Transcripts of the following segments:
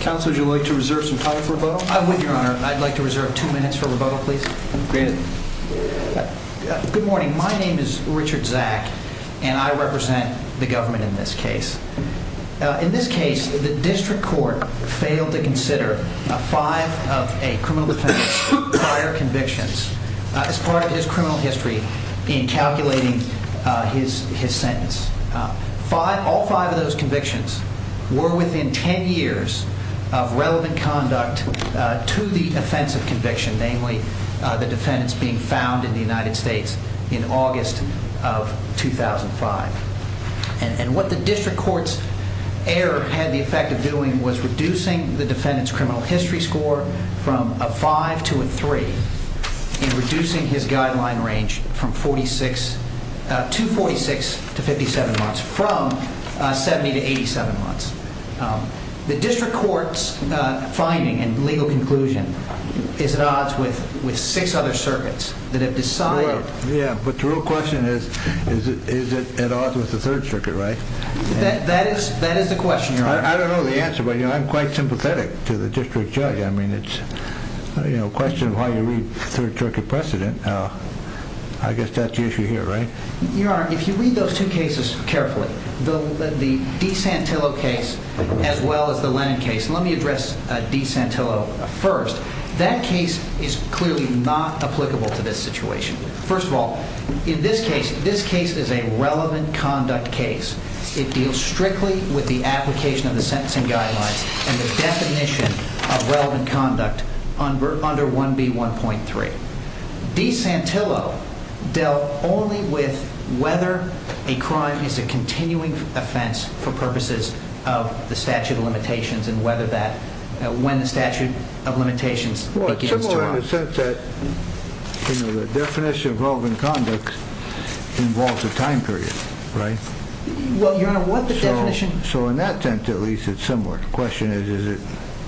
Council, would you like to reserve some time for rebuttal? Well, I would, Your Honor. I'd like to reserve two minutes for rebuttal, please. Good morning. My name is Richard Zack, and I represent the government in this case. In this case, the district court failed to consider five of a criminal defendant's prior convictions as part of his criminal history in calculating his sentence. All five of those convictions were within ten years of relevant conduct to the offensive conviction, namely the defendants being found in the United States in August of 2005. And what the district court's error had the effect of doing was reducing the defendant's criminal history score from a 5 to a 3, and reducing his guideline range to 46 to 57 months, from 70 to 87 months. The district court's finding and legal conclusion is at odds with six other circuits that have decided... Yeah, but the real question is, is it at odds with the third circuit, right? That is the question, Your Honor. I don't know the answer, but I'm quite sympathetic to the district judge. I mean, it's a question of why you read third circuit precedent. I guess that's the issue here, right? Your Honor, if you read those two cases carefully, the De Santillo case as well as the Lennon case, let me address De Santillo first. That case is clearly not applicable to this situation. First of all, in this case, this case is a relevant conduct case. It deals strictly with the application of the sentencing guidelines and the definition of relevant conduct under 1B1.3. De Santillo dealt only with whether a crime is a continuing offense for purposes of the statute of limitations and when the statute of limitations begins to run. Well, it's similar in the sense that the definition of relevant conduct involves a time period, right? Well, Your Honor, what the definition... So in that sense, at least, it's similar. The question is,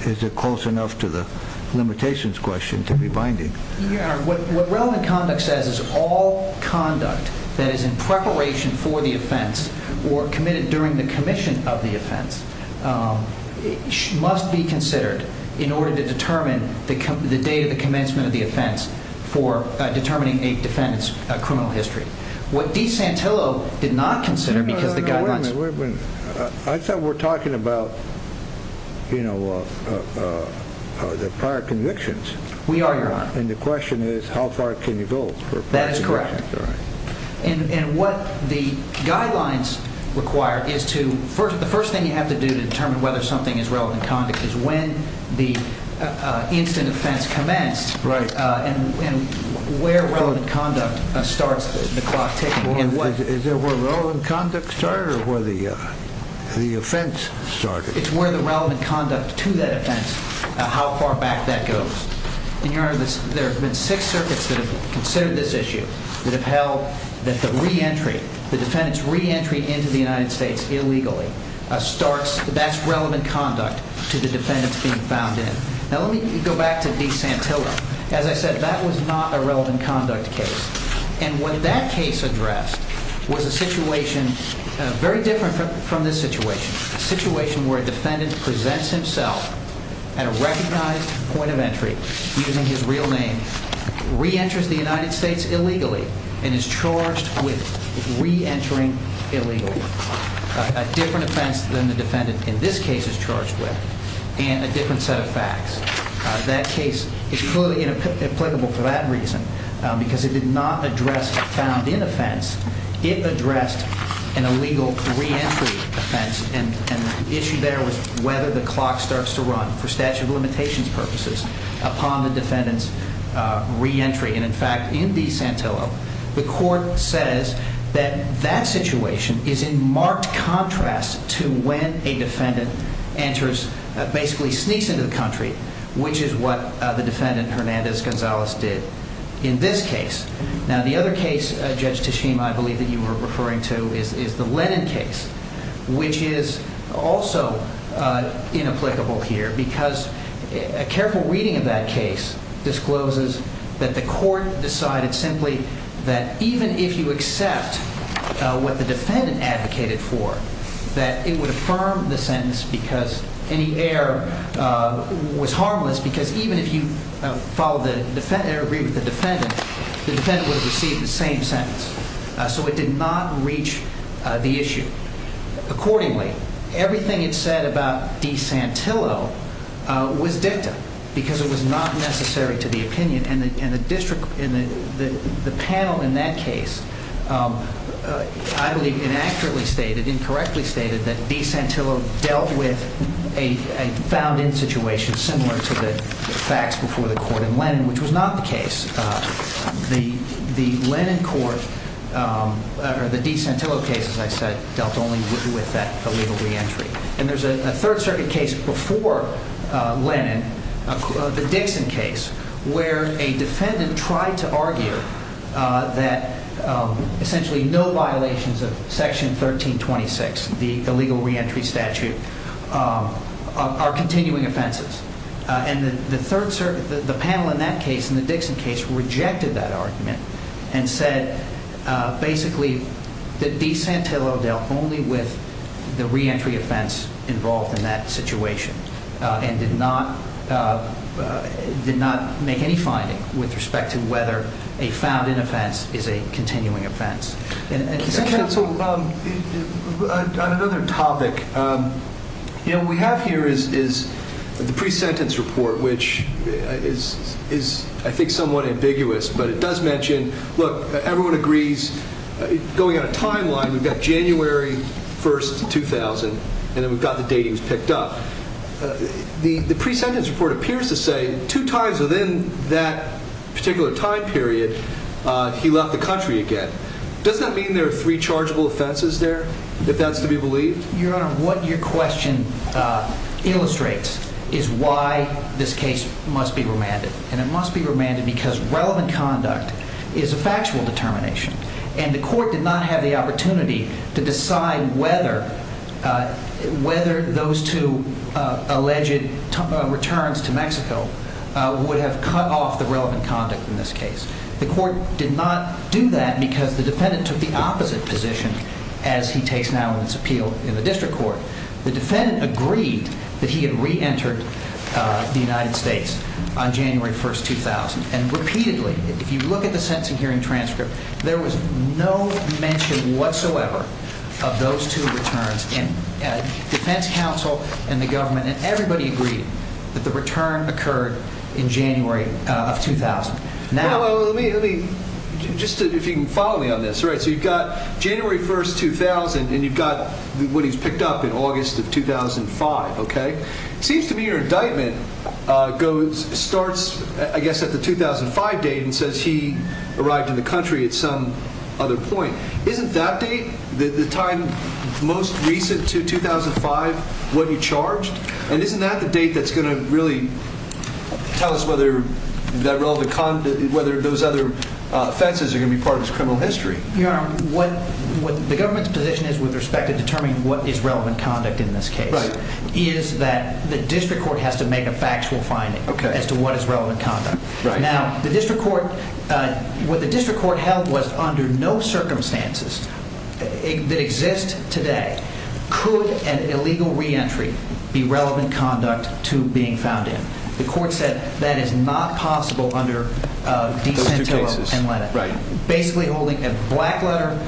is it close enough to the limitations question to be binding? Your Honor, what relevant conduct says is all conduct that is in preparation for the offense or committed during the commission of the offense must be considered in order to determine the date of the commencement of the offense for determining a defendant's criminal history. What De Santillo did not consider because the guidelines... No, no, no, wait a minute. I thought we were talking about, you know, the prior convictions. We are, Your Honor. And the question is, how far can you go for prior convictions? That is correct. All right. And what the guidelines require is to... The first thing you have to do to determine whether something is relevant conduct is when the instant offense commenced... Right. ...and where relevant conduct starts the clock ticking. Is it where relevant conduct started or where the offense started? It's where the relevant conduct to that offense, how far back that goes. And, Your Honor, there have been six circuits that have considered this issue that have held that the reentry, the defendant's reentry into the United States illegally starts... That's relevant conduct to the defendants being found in. Now, let me go back to De Santillo. As I said, that was not a relevant conduct case. And what that case addressed was a situation very different from this situation, a situation where a defendant presents himself at a recognized point of entry using his real name, reenters the United States illegally, and is charged with reentering illegally, a different offense than the defendant in this case is charged with, and a different set of facts. That case is clearly inapplicable for that reason because it did not address a found in offense. It addressed an illegal reentry offense, and the issue there was whether the clock starts to run, for statute of limitations purposes, upon the defendant's reentry. And, in fact, in De Santillo, the court says that that situation is in marked contrast to when a defendant enters, basically sneaks into the country, which is what the defendant, Hernandez-Gonzalez, did in this case. Now, the other case, Judge Teshim, I believe that you were referring to is the Lennon case, which is also inapplicable here because a careful reading of that case discloses that the court decided simply that even if you accept what the defendant advocated for, that it would affirm the sentence because any error was harmless. Because even if you agree with the defendant, the defendant would have received the same sentence. So it did not reach the issue. Accordingly, everything it said about De Santillo was dicta because it was not necessary to the opinion, and the panel in that case, I believe, inaccurately stated, incorrectly stated, that De Santillo dealt with a found in situation similar to the facts before the court in Lennon, which was not the case. The Lennon court, or the De Santillo case, as I said, dealt only with that illegal reentry. And there's a Third Circuit case before Lennon, the Dixon case, where a defendant tried to argue that essentially no violations of Section 1326, the illegal reentry statute, are continuing offenses. And the panel in that case, in the Dixon case, rejected that argument and said basically that De Santillo dealt only with the reentry offense involved in that situation and did not make any finding with respect to whether a found in offense is a continuing offense. On another topic, what we have here is the pre-sentence report, which is, I think, somewhat ambiguous, but it does mention, look, everyone agrees, going on a timeline, we've got January 1st, 2000, and then we've got the date he was picked up. The pre-sentence report appears to say two times within that particular time period he left the country again. Does that mean there are three chargeable offenses there, if that's to be believed? Your Honor, what your question illustrates is why this case must be remanded. And it must be remanded because relevant conduct is a factual determination. And the court did not have the opportunity to decide whether those two alleged returns to Mexico would have cut off the relevant conduct in this case. The court did not do that because the defendant took the opposite position, as he takes now in his appeal in the district court. The defendant agreed that he had reentered the United States on January 1st, 2000. And repeatedly, if you look at the sentencing hearing transcript, there was no mention whatsoever of those two returns. And defense counsel and the government and everybody agreed that the return occurred in January of 2000. Just if you can follow me on this. So you've got January 1st, 2000, and you've got what he's picked up in August of 2005, okay? It seems to me your indictment starts, I guess, at the 2005 date and says he arrived in the country at some other point. Isn't that date the time most recent to 2005 when he charged? And isn't that the date that's going to really tell us whether those other offenses are going to be part of his criminal history? Your Honor, the government's position is with respect to determining what is relevant conduct in this case is that the district court has to make a factual finding as to what is relevant conduct. Now, what the district court held was under no circumstances that exist today could an illegal reentry be relevant conduct to being found in. The court said that is not possible under Decentillo and Lennon. Basically holding a black letter,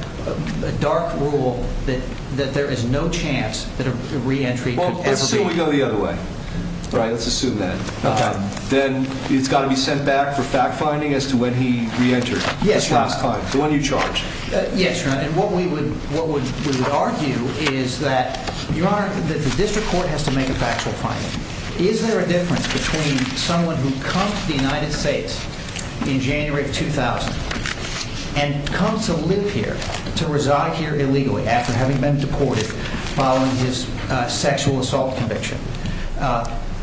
a dark rule that there is no chance that a reentry could ever be. Why don't we go the other way? All right, let's assume that. Okay. Then it's got to be sent back for fact-finding as to when he reentered. Yes, Your Honor. This last time, the one you charged. Yes, Your Honor. And what we would argue is that, Your Honor, that the district court has to make a factual finding. Is there a difference between someone who comes to the United States in January of 2000 and comes to live here, to reside here illegally after having been deported following his sexual assault conviction,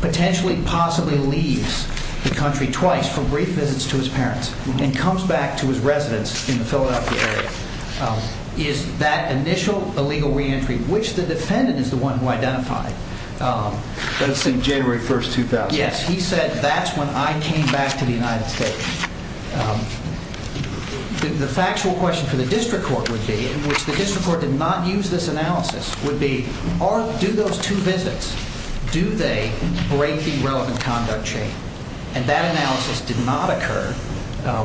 potentially possibly leaves the country twice for brief visits to his parents and comes back to his residence in the Philadelphia area? Is that initial illegal reentry, which the defendant is the one who identified. But it's in January 1st, 2000. Yes. He said, that's when I came back to the United States. The factual question for the district court would be, in which the district court did not use this analysis, would be, do those two visits, do they break the relevant conduct chain? And that analysis did not occur.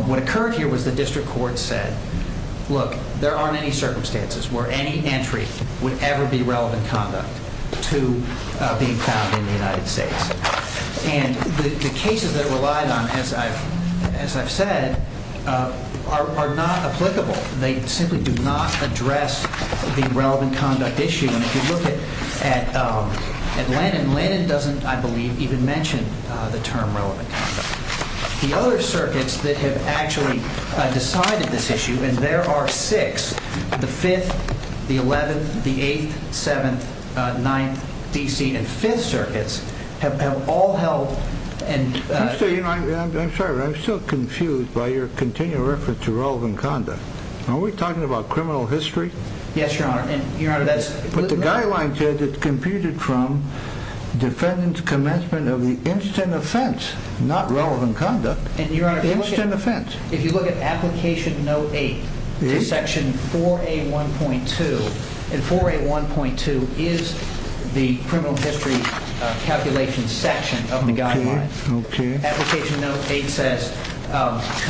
What occurred here was the district court said, look, there aren't any circumstances where any entry would ever be relevant conduct to being found in the United States. And the cases that relied on, as I've said, are not applicable. They simply do not address the relevant conduct issue. And if you look at Lennon, Lennon doesn't, I believe, even mention the term relevant conduct. The other circuits that have actually decided this issue, and there are six, the 5th, the 11th, the 8th, 7th, 9th, DC, and 5th circuits, have all held. I'm sorry, I'm still confused by your continued reference to relevant conduct. Are we talking about criminal history? Yes, Your Honor. But the guideline says it's computed from defendant's commencement of the instant offense, not relevant conduct. Instant offense. If you look at Application Note 8, Section 4A1.2, and 4A1.2 is the criminal history calculation section of the guideline. Application Note 8 says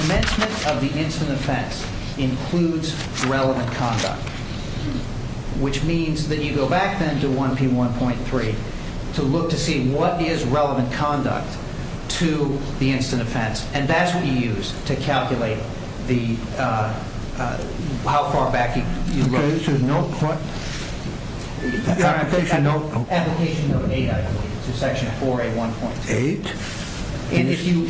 commencement of the instant offense includes relevant conduct. Which means that you go back then to 1P1.3 to look to see what is relevant conduct to the instant offense. And that's what you use to calculate how far back you look. Okay, so Note Point? Application Note 8, I believe. Section 4A1.2. Eight. And if you,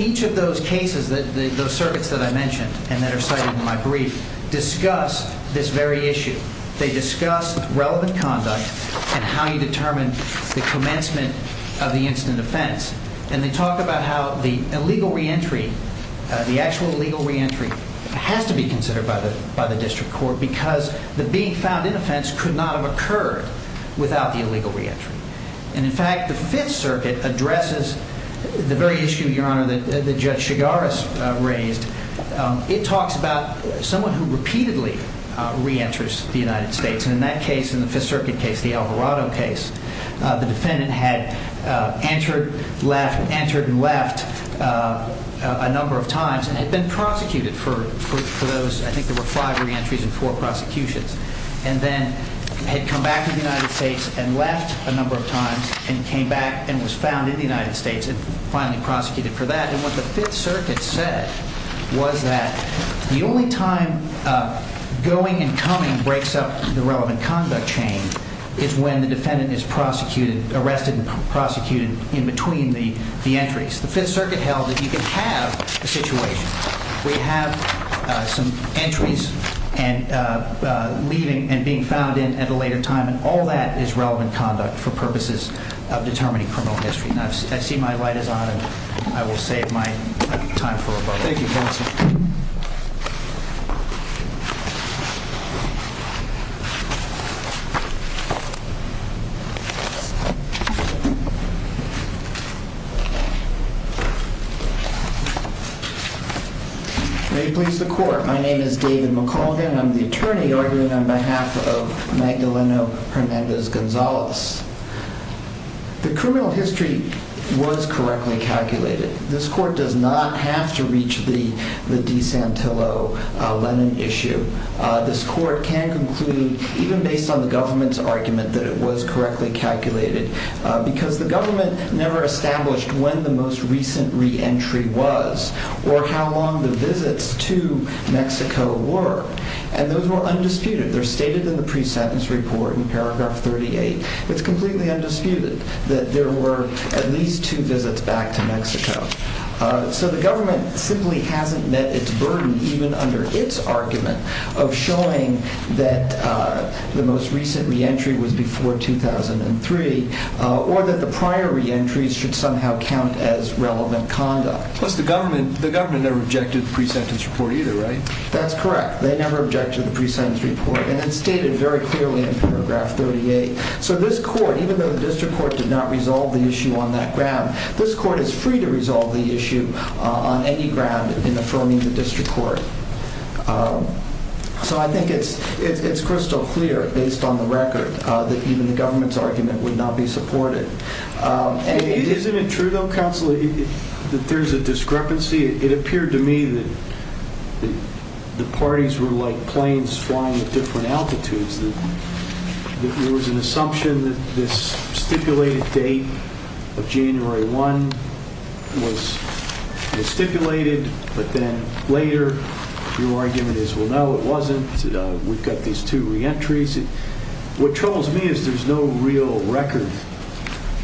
each of those cases, those circuits that I mentioned and that are cited in my brief, discuss this very issue. They discuss relevant conduct and how you determine the commencement of the instant offense. And they talk about how the illegal reentry, the actual illegal reentry, has to be considered by the district court because the being found in offense could not have occurred without the illegal reentry. And, in fact, the Fifth Circuit addresses the very issue, Your Honor, that Judge Chigaris raised. It talks about someone who repeatedly reenters the United States. And in that case, in the Fifth Circuit case, the Alvarado case, the defendant had entered and left a number of times and had been prosecuted for those, I think there were five reentries and four prosecutions. And then had come back to the United States and left a number of times and came back and was found in the United States and finally prosecuted for that. And what the Fifth Circuit said was that the only time going and coming breaks up the relevant conduct chain is when the defendant is prosecuted, arrested and prosecuted in between the entries. The Fifth Circuit held that you could have a situation where you have some entries and leaving and being found in at a later time. And all that is relevant conduct for purposes of determining criminal history. And I see my light is on and I will save my time for a moment. Thank you, counsel. May it please the court. My name is David McCauldin. I'm the attorney arguing on behalf of Magdaleno Hernandez-Gonzalez. The criminal history was correctly calculated. This court does not have to reach the De Santillo-Lennon issue. This court can conclude even based on the government's argument that it was correctly calculated because the government never established when the most recent reentry was or how long the visits to Mexico were. And those were undisputed. They're stated in the pre-sentence report in paragraph 38. It's completely undisputed that there were at least two visits back to Mexico. So the government simply hasn't met its burden, even under its argument, of showing that the most recent reentry was before 2003 or that the prior reentries should somehow count as relevant conduct. Plus the government never objected to the pre-sentence report either, right? That's correct. They never objected to the pre-sentence report. And it's stated very clearly in paragraph 38. So this court, even though the district court did not resolve the issue on that ground, this court is free to resolve the issue on any ground in affirming the district court. So I think it's crystal clear, based on the record, that even the government's argument would not be supported. Isn't it true, though, counsel, that there's a discrepancy? It appeared to me that the parties were like planes flying at different altitudes, that there was an assumption that this stipulated date of January 1 was stipulated, but then later your argument is, well, no, it wasn't. We've got these two reentries. What troubles me is there's no real record.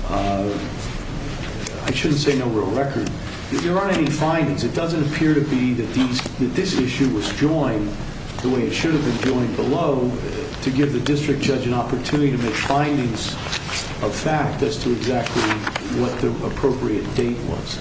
I shouldn't say no real record. There aren't any findings. It doesn't appear to be that this issue was joined the way it should have been joined below to give the district judge an opportunity to make findings of fact as to exactly what the appropriate date was.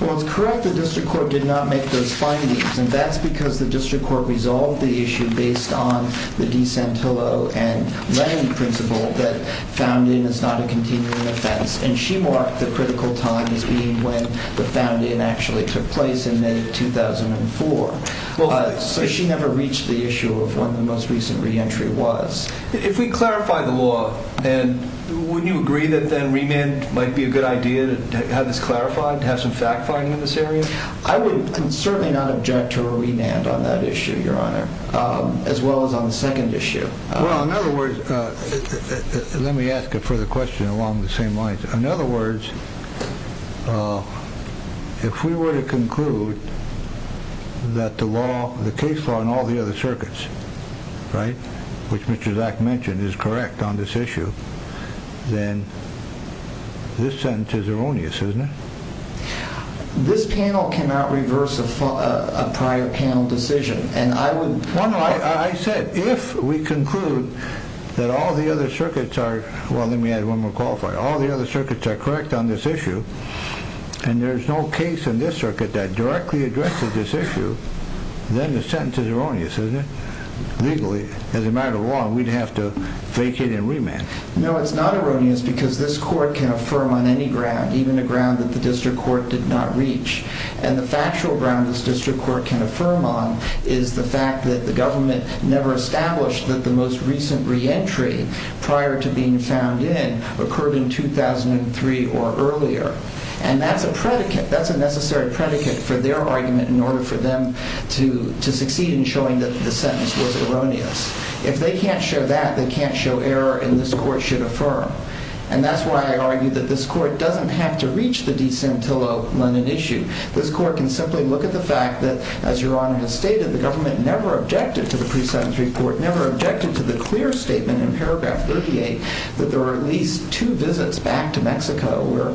Well, it's correct the district court did not make those findings, and that's because the district court resolved the issue based on the De Santillo and Lennon principle that founding is not a continuing offense. And she marked the critical time as being when the founding actually took place in May of 2004. So she never reached the issue of when the most recent reentry was. If we clarify the law, then wouldn't you agree that then remand might be a good idea to have this clarified, to have some fact-finding in this area? I would certainly not object to a remand on that issue, Your Honor, as well as on the second issue. Well, in other words, let me ask a further question along the same lines. In other words, if we were to conclude that the case law in all the other circuits, which Mr. Zak mentioned, is correct on this issue, then this sentence is erroneous, isn't it? This panel cannot reverse a prior panel decision. I said if we conclude that all the other circuits are correct on this issue, and there's no case in this circuit that directly addresses this issue, then the sentence is erroneous, isn't it? Legally, as a matter of law, we'd have to vacate and remand. No, it's not erroneous because this court can affirm on any ground, even a ground that the district court did not reach. And the factual ground this district court can affirm on is the fact that the government never established that the most recent reentry prior to being found in occurred in 2003 or earlier. And that's a predicate, that's a necessary predicate for their argument in order for them to succeed in showing that the sentence was erroneous. If they can't show that, they can't show error, and this court should affirm. And that's why I argue that this court doesn't have to reach the De Santillo-London issue. This court can simply look at the fact that, as Your Honor has stated, the government never objected to the pre-sentence report, never objected to the clear statement in paragraph 38 that there were at least two visits back to Mexico where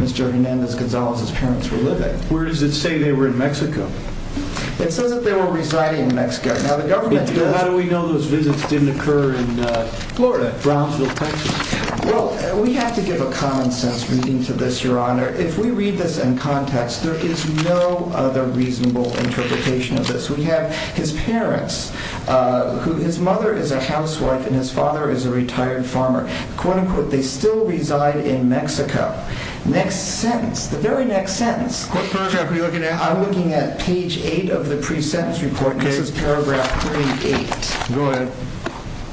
Mr. Hernandez-Gonzalez's parents were living. Where does it say they were in Mexico? It says that they were residing in Mexico. Now, the government does. How do we know those visits didn't occur in Florida, Brownsville, Texas? Well, we have to give a common-sense reading to this, Your Honor. If we read this in context, there is no other reasonable interpretation of this. We have his parents. His mother is a housewife and his father is a retired farmer. They still reside in Mexico. Next sentence, the very next sentence. What paragraph are you looking at? I'm looking at page 8 of the pre-sentence report. This is paragraph 38. Go ahead.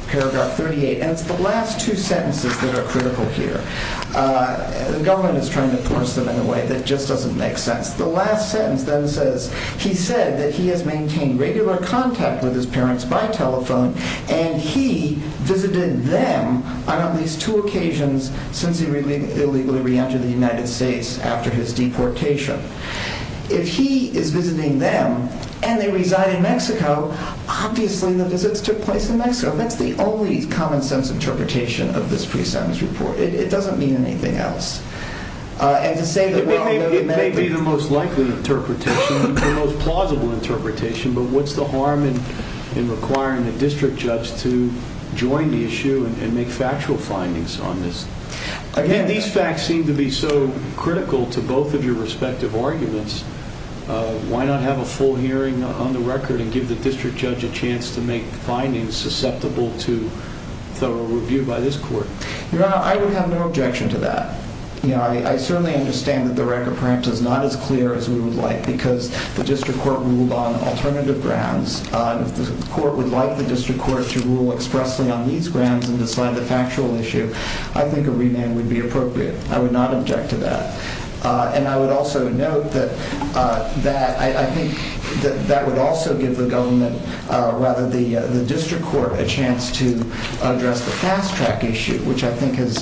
Paragraph 38, and it's the last two sentences that are critical here. The government is trying to force them in a way that just doesn't make sense. The last sentence then says, he said that he has maintained regular contact with his parents by telephone and he visited them on at least two occasions since he illegally re-entered the United States after his deportation. If he is visiting them and they reside in Mexico, obviously the visits took place in Mexico. That's the only common-sense interpretation of this pre-sentence report. It doesn't mean anything else. It may be the most likely interpretation, the most plausible interpretation, but what's the harm in requiring a district judge to join the issue and make factual findings on this? Again, these facts seem to be so critical to both of your respective arguments. Why not have a full hearing on the record and give the district judge a chance to make findings susceptible to thorough review by this court? Your Honor, I would have no objection to that. I certainly understand that the record perhaps is not as clear as we would like because the district court ruled on alternative grounds. If the court would like the district court to rule expressly on these grounds and decide the factual issue, I think a remand would be appropriate. I would not object to that. And I would also note that I think that would also give the government, rather the district court, a chance to address the fast-track issue, which I think has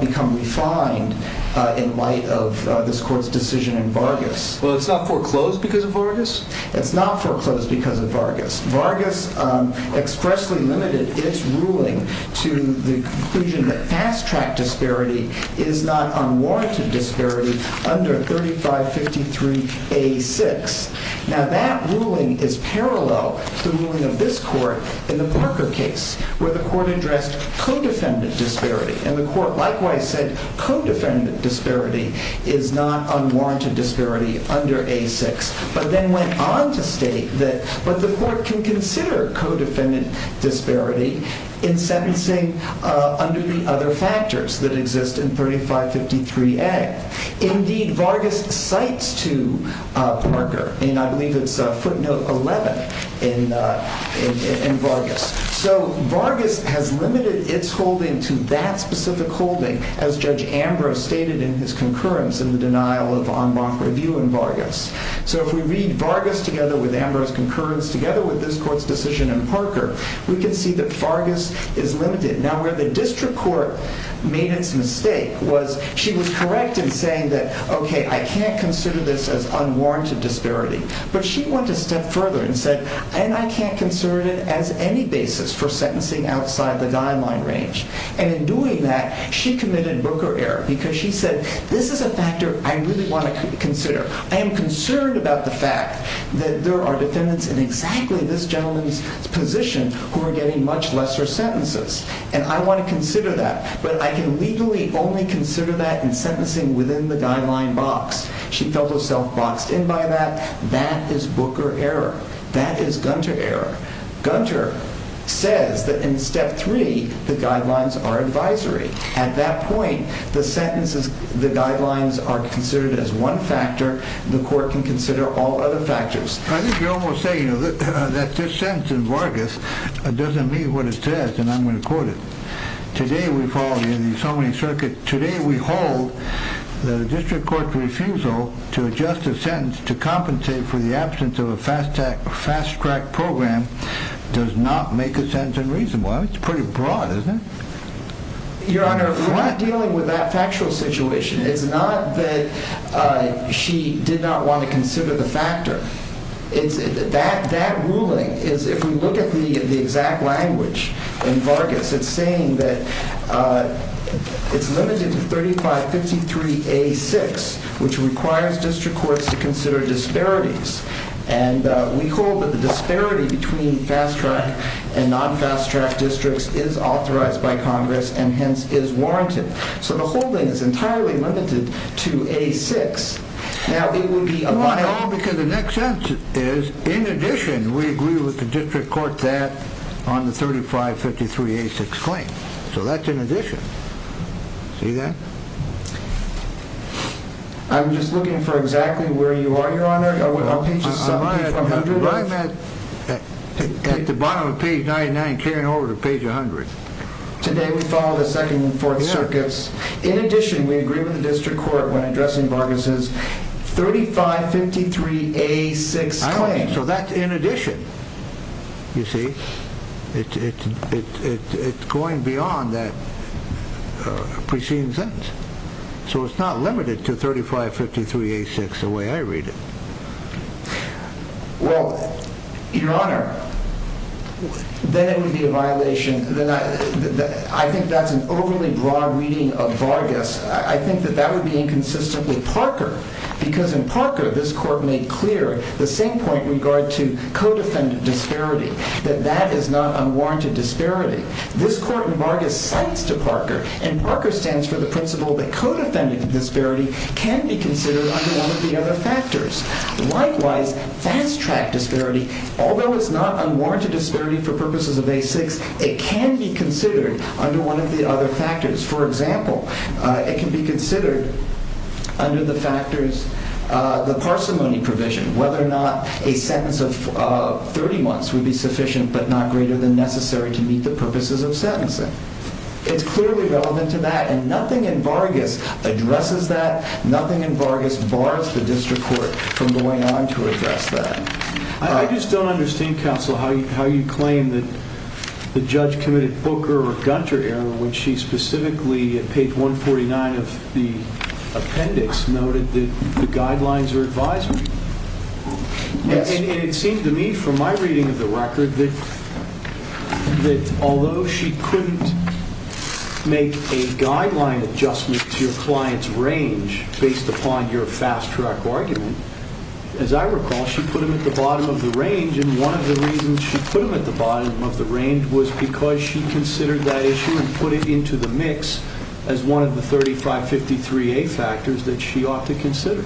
become refined in light of this court's decision in Vargas. Well, it's not foreclosed because of Vargas? It's not foreclosed because of Vargas. Vargas expressly limited its ruling to the conclusion that fast-track disparity is not unwarranted disparity under 3553A6. Now, that ruling is parallel to the ruling of this court in the Parker case where the court addressed co-defendant disparity, and the court likewise said co-defendant disparity is not unwarranted disparity under A6, but then went on to state that the court can consider co-defendant disparity in sentencing under the other factors that exist in 3553A. Indeed, Vargas cites to Parker, and I believe it's footnote 11 in Vargas. So Vargas has limited its holding to that specific holding, as Judge Ambrose stated in his concurrence in the denial of en banc review in Vargas. So if we read Vargas together with Ambrose's concurrence together with this court's decision in Parker, we can see that Vargas is limited. Now, where the district court made its mistake was she was correct in saying that, OK, I can't consider this as unwarranted disparity. But she went a step further and said, and I can't consider it as any basis for sentencing outside the guideline range. And in doing that, she committed broker error because she said, this is a factor I really want to consider. I am concerned about the fact that there are defendants in exactly this gentleman's position who are getting much lesser sentences. And I want to consider that. But I can legally only consider that in sentencing within the guideline box. She felt herself boxed in by that. That is broker error. That is Gunter error. Gunter says that in step three, the guidelines are advisory. At that point, the sentences, the guidelines are considered as one factor. The court can consider all other factors. I think you're almost saying that this sentence in Vargas doesn't mean what it says, and I'm going to quote it. Today we follow the assembly circuit. Today we hold the district court's refusal to adjust a sentence to compensate for the absence of a fast track program does not make a sentence unreasonable. It's pretty broad, isn't it? Your Honor, we're not dealing with that factual situation. It's not that she did not want to consider the factor. That ruling is, if we look at the exact language in Vargas, it's saying that it's limited to 3553A6, which requires district courts to consider disparities. And we hold that the disparity between fast track and non-fast track districts is authorized by Congress and, hence, is warranted. So the holding is entirely limited to A6. Now, it would be a violation. Because the next sentence is, in addition, we agree with the district court that on the 3553A6 claim. So that's in addition. See that? I'm just looking for exactly where you are, Your Honor. I'm at the bottom of page 99, carrying over to page 100. Today we follow the second and fourth circuits. In addition, we agree with the district court when addressing Vargas' 3553A6 claim. I know. So that's in addition. You see, it's going beyond that preceding sentence. So it's not limited to 3553A6 the way I read it. Well, Your Honor, then it would be a violation. I think that's an overly broad reading of Vargas. I think that that would be inconsistently Parker. Because in Parker, this court made clear the same point in regard to codefendant disparity, that that is not unwarranted disparity. This court in Vargas cites to Parker, and Parker stands for the principle that codefendant disparity can be considered under one of the other factors. Likewise, fast-track disparity, although it's not unwarranted disparity for purposes of A6, it can be considered under one of the other factors. For example, it can be considered under the factors, the parsimony provision, whether or not a sentence of 30 months would be sufficient but not greater than necessary to meet the purposes of sentencing. It's clearly relevant to that. And nothing in Vargas addresses that. Nothing in Vargas bars the district court from going on to address that. I just don't understand, counsel, how you claim that the judge committed Booker or Gunter error when she specifically, at page 149 of the appendix, noted that the guidelines are advisory. And it seemed to me from my reading of the record that although she couldn't make a guideline adjustment to your client's range based upon your fast-track argument, as I recall, she put them at the bottom of the range, and one of the reasons she put them at the bottom of the range was because she considered that issue and put it into the mix as one of the 3553A factors that she ought to consider.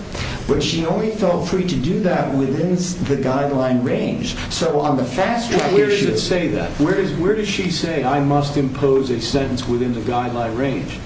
But she only felt free to do that within the guideline range. Where does it say that? Where does she say I must impose a sentence within the guideline range?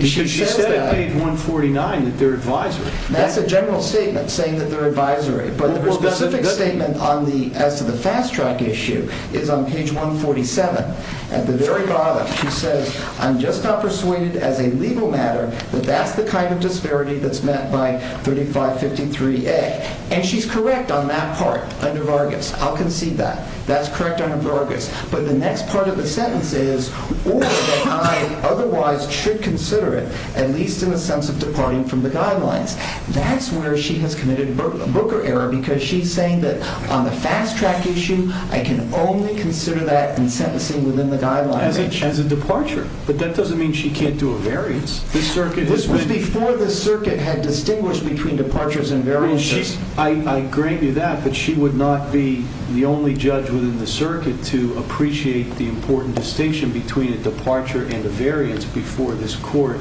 She said at page 149 that they're advisory. That's a general statement, saying that they're advisory. But her specific statement as to the fast-track issue is on page 147. At the very bottom, she says, I'm just not persuaded as a legal matter that that's the kind of disparity that's met by 3553A. And she's correct on that part under Vargas. I'll concede that. That's correct under Vargas. But the next part of the sentence is, or that I otherwise should consider it, at least in the sense of departing from the guidelines. That's where she has committed a booker error because she's saying that on the fast-track issue, I can only consider that in sentencing within the guideline range. As a departure, but that doesn't mean she can't do a variance. This was before the circuit had distinguished between departures and variances. I grant you that, but she would not be the only judge within the circuit to appreciate the important distinction between a departure and a variance before this court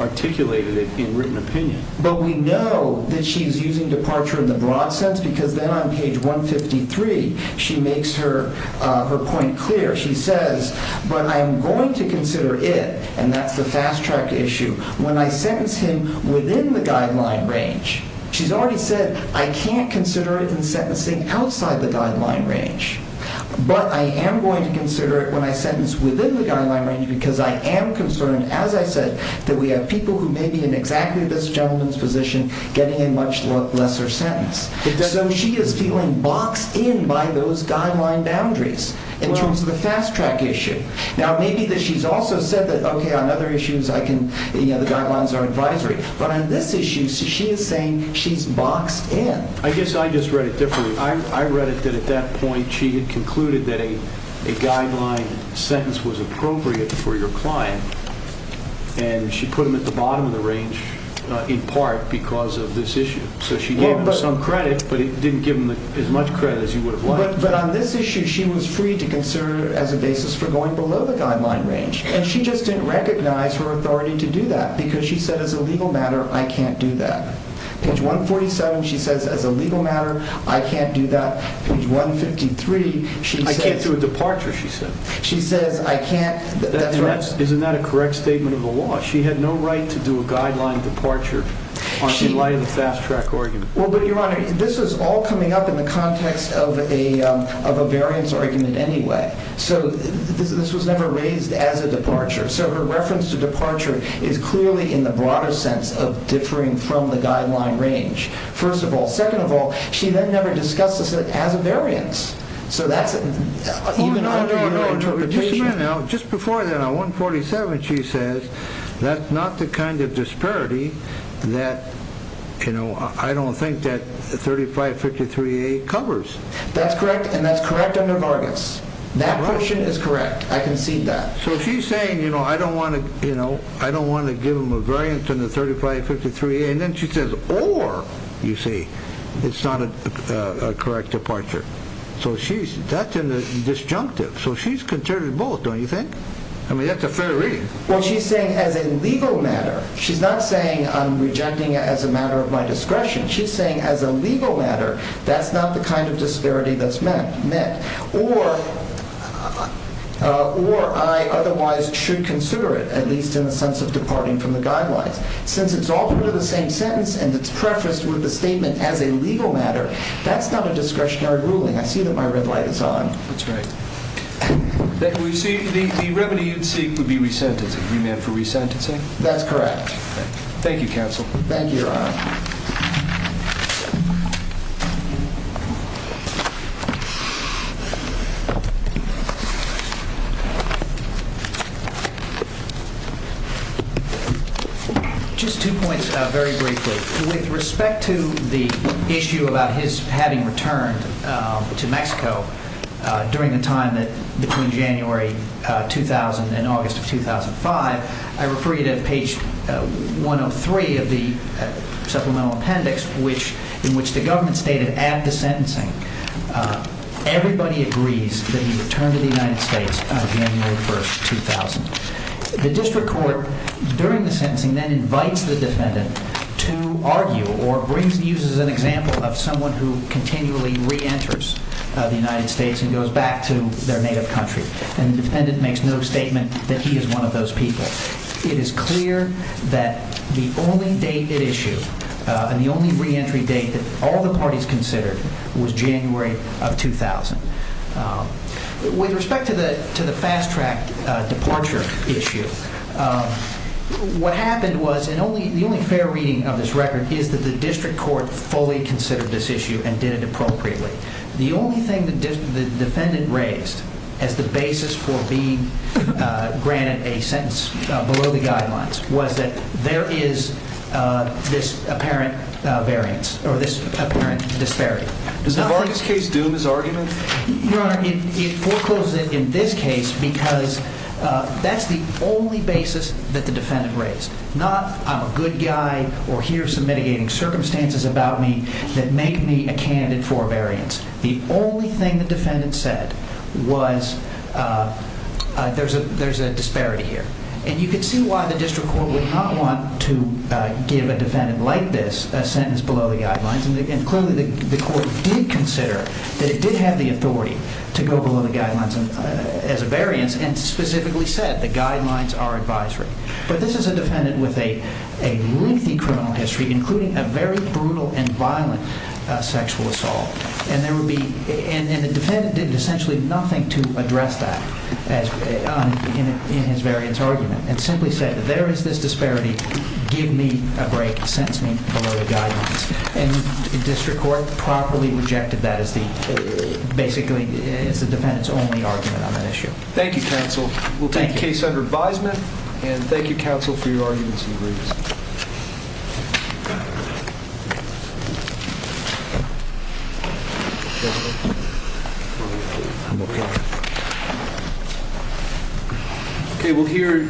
articulated it in written opinion. But we know that she's using departure in the broad sense because then on page 153, she makes her point clear. She says, but I'm going to consider it, and that's the fast-track issue. When I sentence him within the guideline range, she's already said I can't consider it in sentencing outside the guideline range, but I am going to consider it when I sentence within the guideline range because I am concerned, as I said, that we have people who may be in exactly this gentleman's position getting a much lesser sentence. So she is feeling boxed in by those guideline boundaries in terms of the fast-track issue. Now, maybe that she's also said that, okay, on other issues, the guidelines are advisory. But on this issue, she is saying she's boxed in. I guess I just read it differently. I read it that at that point she had concluded that a guideline sentence was appropriate for your client, and she put him at the bottom of the range in part because of this issue. So she gave him some credit, but didn't give him as much credit as you would have liked. But on this issue, she was free to consider it as a basis for going below the guideline range, and she just didn't recognize her authority to do that because she said, as a legal matter, I can't do that. Page 147, she says, as a legal matter, I can't do that. Page 153, she says— I can't do a departure, she said. She says, I can't— Isn't that a correct statement of the law? She had no right to do a guideline departure in light of the fast-track argument. Well, but, Your Honor, this is all coming up in the context of a variance argument anyway. So this was never raised as a departure. So her reference to departure is clearly in the broader sense of differing from the guideline range, first of all. Second of all, she then never discussed this as a variance. So that's even under your interpretation. Just before that, on 147, she says, that's not the kind of disparity that, you know, I don't think that 3553A covers. That's correct, and that's correct under Vargas. That portion is correct. I concede that. So she's saying, you know, I don't want to, you know, I don't want to give him a variance in the 3553A, and then she says, or, you see, it's not a correct departure. So she's—that's in the disjunctive. So she's considering both, don't you think? I mean, that's a fair reading. Well, she's saying as a legal matter. She's not saying I'm rejecting it as a matter of my discretion. She's saying as a legal matter, that's not the kind of disparity that's met. Or I otherwise should consider it, at least in the sense of departing from the guidelines. Since it's all part of the same sentence, and it's prefaced with the statement as a legal matter, that's not a discretionary ruling. I see that my red light is on. That's right. The remedy you'd seek would be resentencing. You meant for resentencing? That's correct. Thank you, counsel. Thank you, Your Honor. Just two points, very briefly. With respect to the issue about his having returned to Mexico during the time between January 2000 and August of 2005, I refer you to page 103 of the supplemental appendix in which the government stated, add the sentencing. Everybody in the United States, everybody agrees that he returned to the United States on January 1st, 2000. The district court, during the sentencing, then invites the defendant to argue or uses an example of someone who continually reenters the United States and goes back to their native country. And the defendant makes no statement that he is one of those people. It is clear that the only date at issue and the only reentry date that all the parties considered was January of 2000. With respect to the fast-track departure issue, what happened was, and the only fair reading of this record, is that the district court fully considered this issue and did it appropriately. The only thing the defendant raised as the basis for being granted a sentence below the guidelines was that there is this apparent variance or this apparent disparity. Does the Vargas case doom his argument? Your Honor, it forecloses it in this case because that's the only basis that the defendant raised. Not I'm a good guy or here are some mitigating circumstances about me that make me a candidate for a variance. The only thing the defendant said was there's a disparity here. And you can see why the district court would not want to give a defendant like this a sentence below the guidelines. And clearly the court did consider that it did have the authority to go below the guidelines as a variance and specifically said the guidelines are advisory. But this is a defendant with a lengthy criminal history including a very brutal and violent sexual assault. And the defendant did essentially nothing to address that in his variance. And simply said that there is this disparity. Give me a break. Sentence me below the guidelines. And district court properly rejected that as the basically as the defendant's only argument on that issue. Thank you, counsel. We'll take the case under advisement. And thank you, counsel, for your arguments and briefs. Thank you.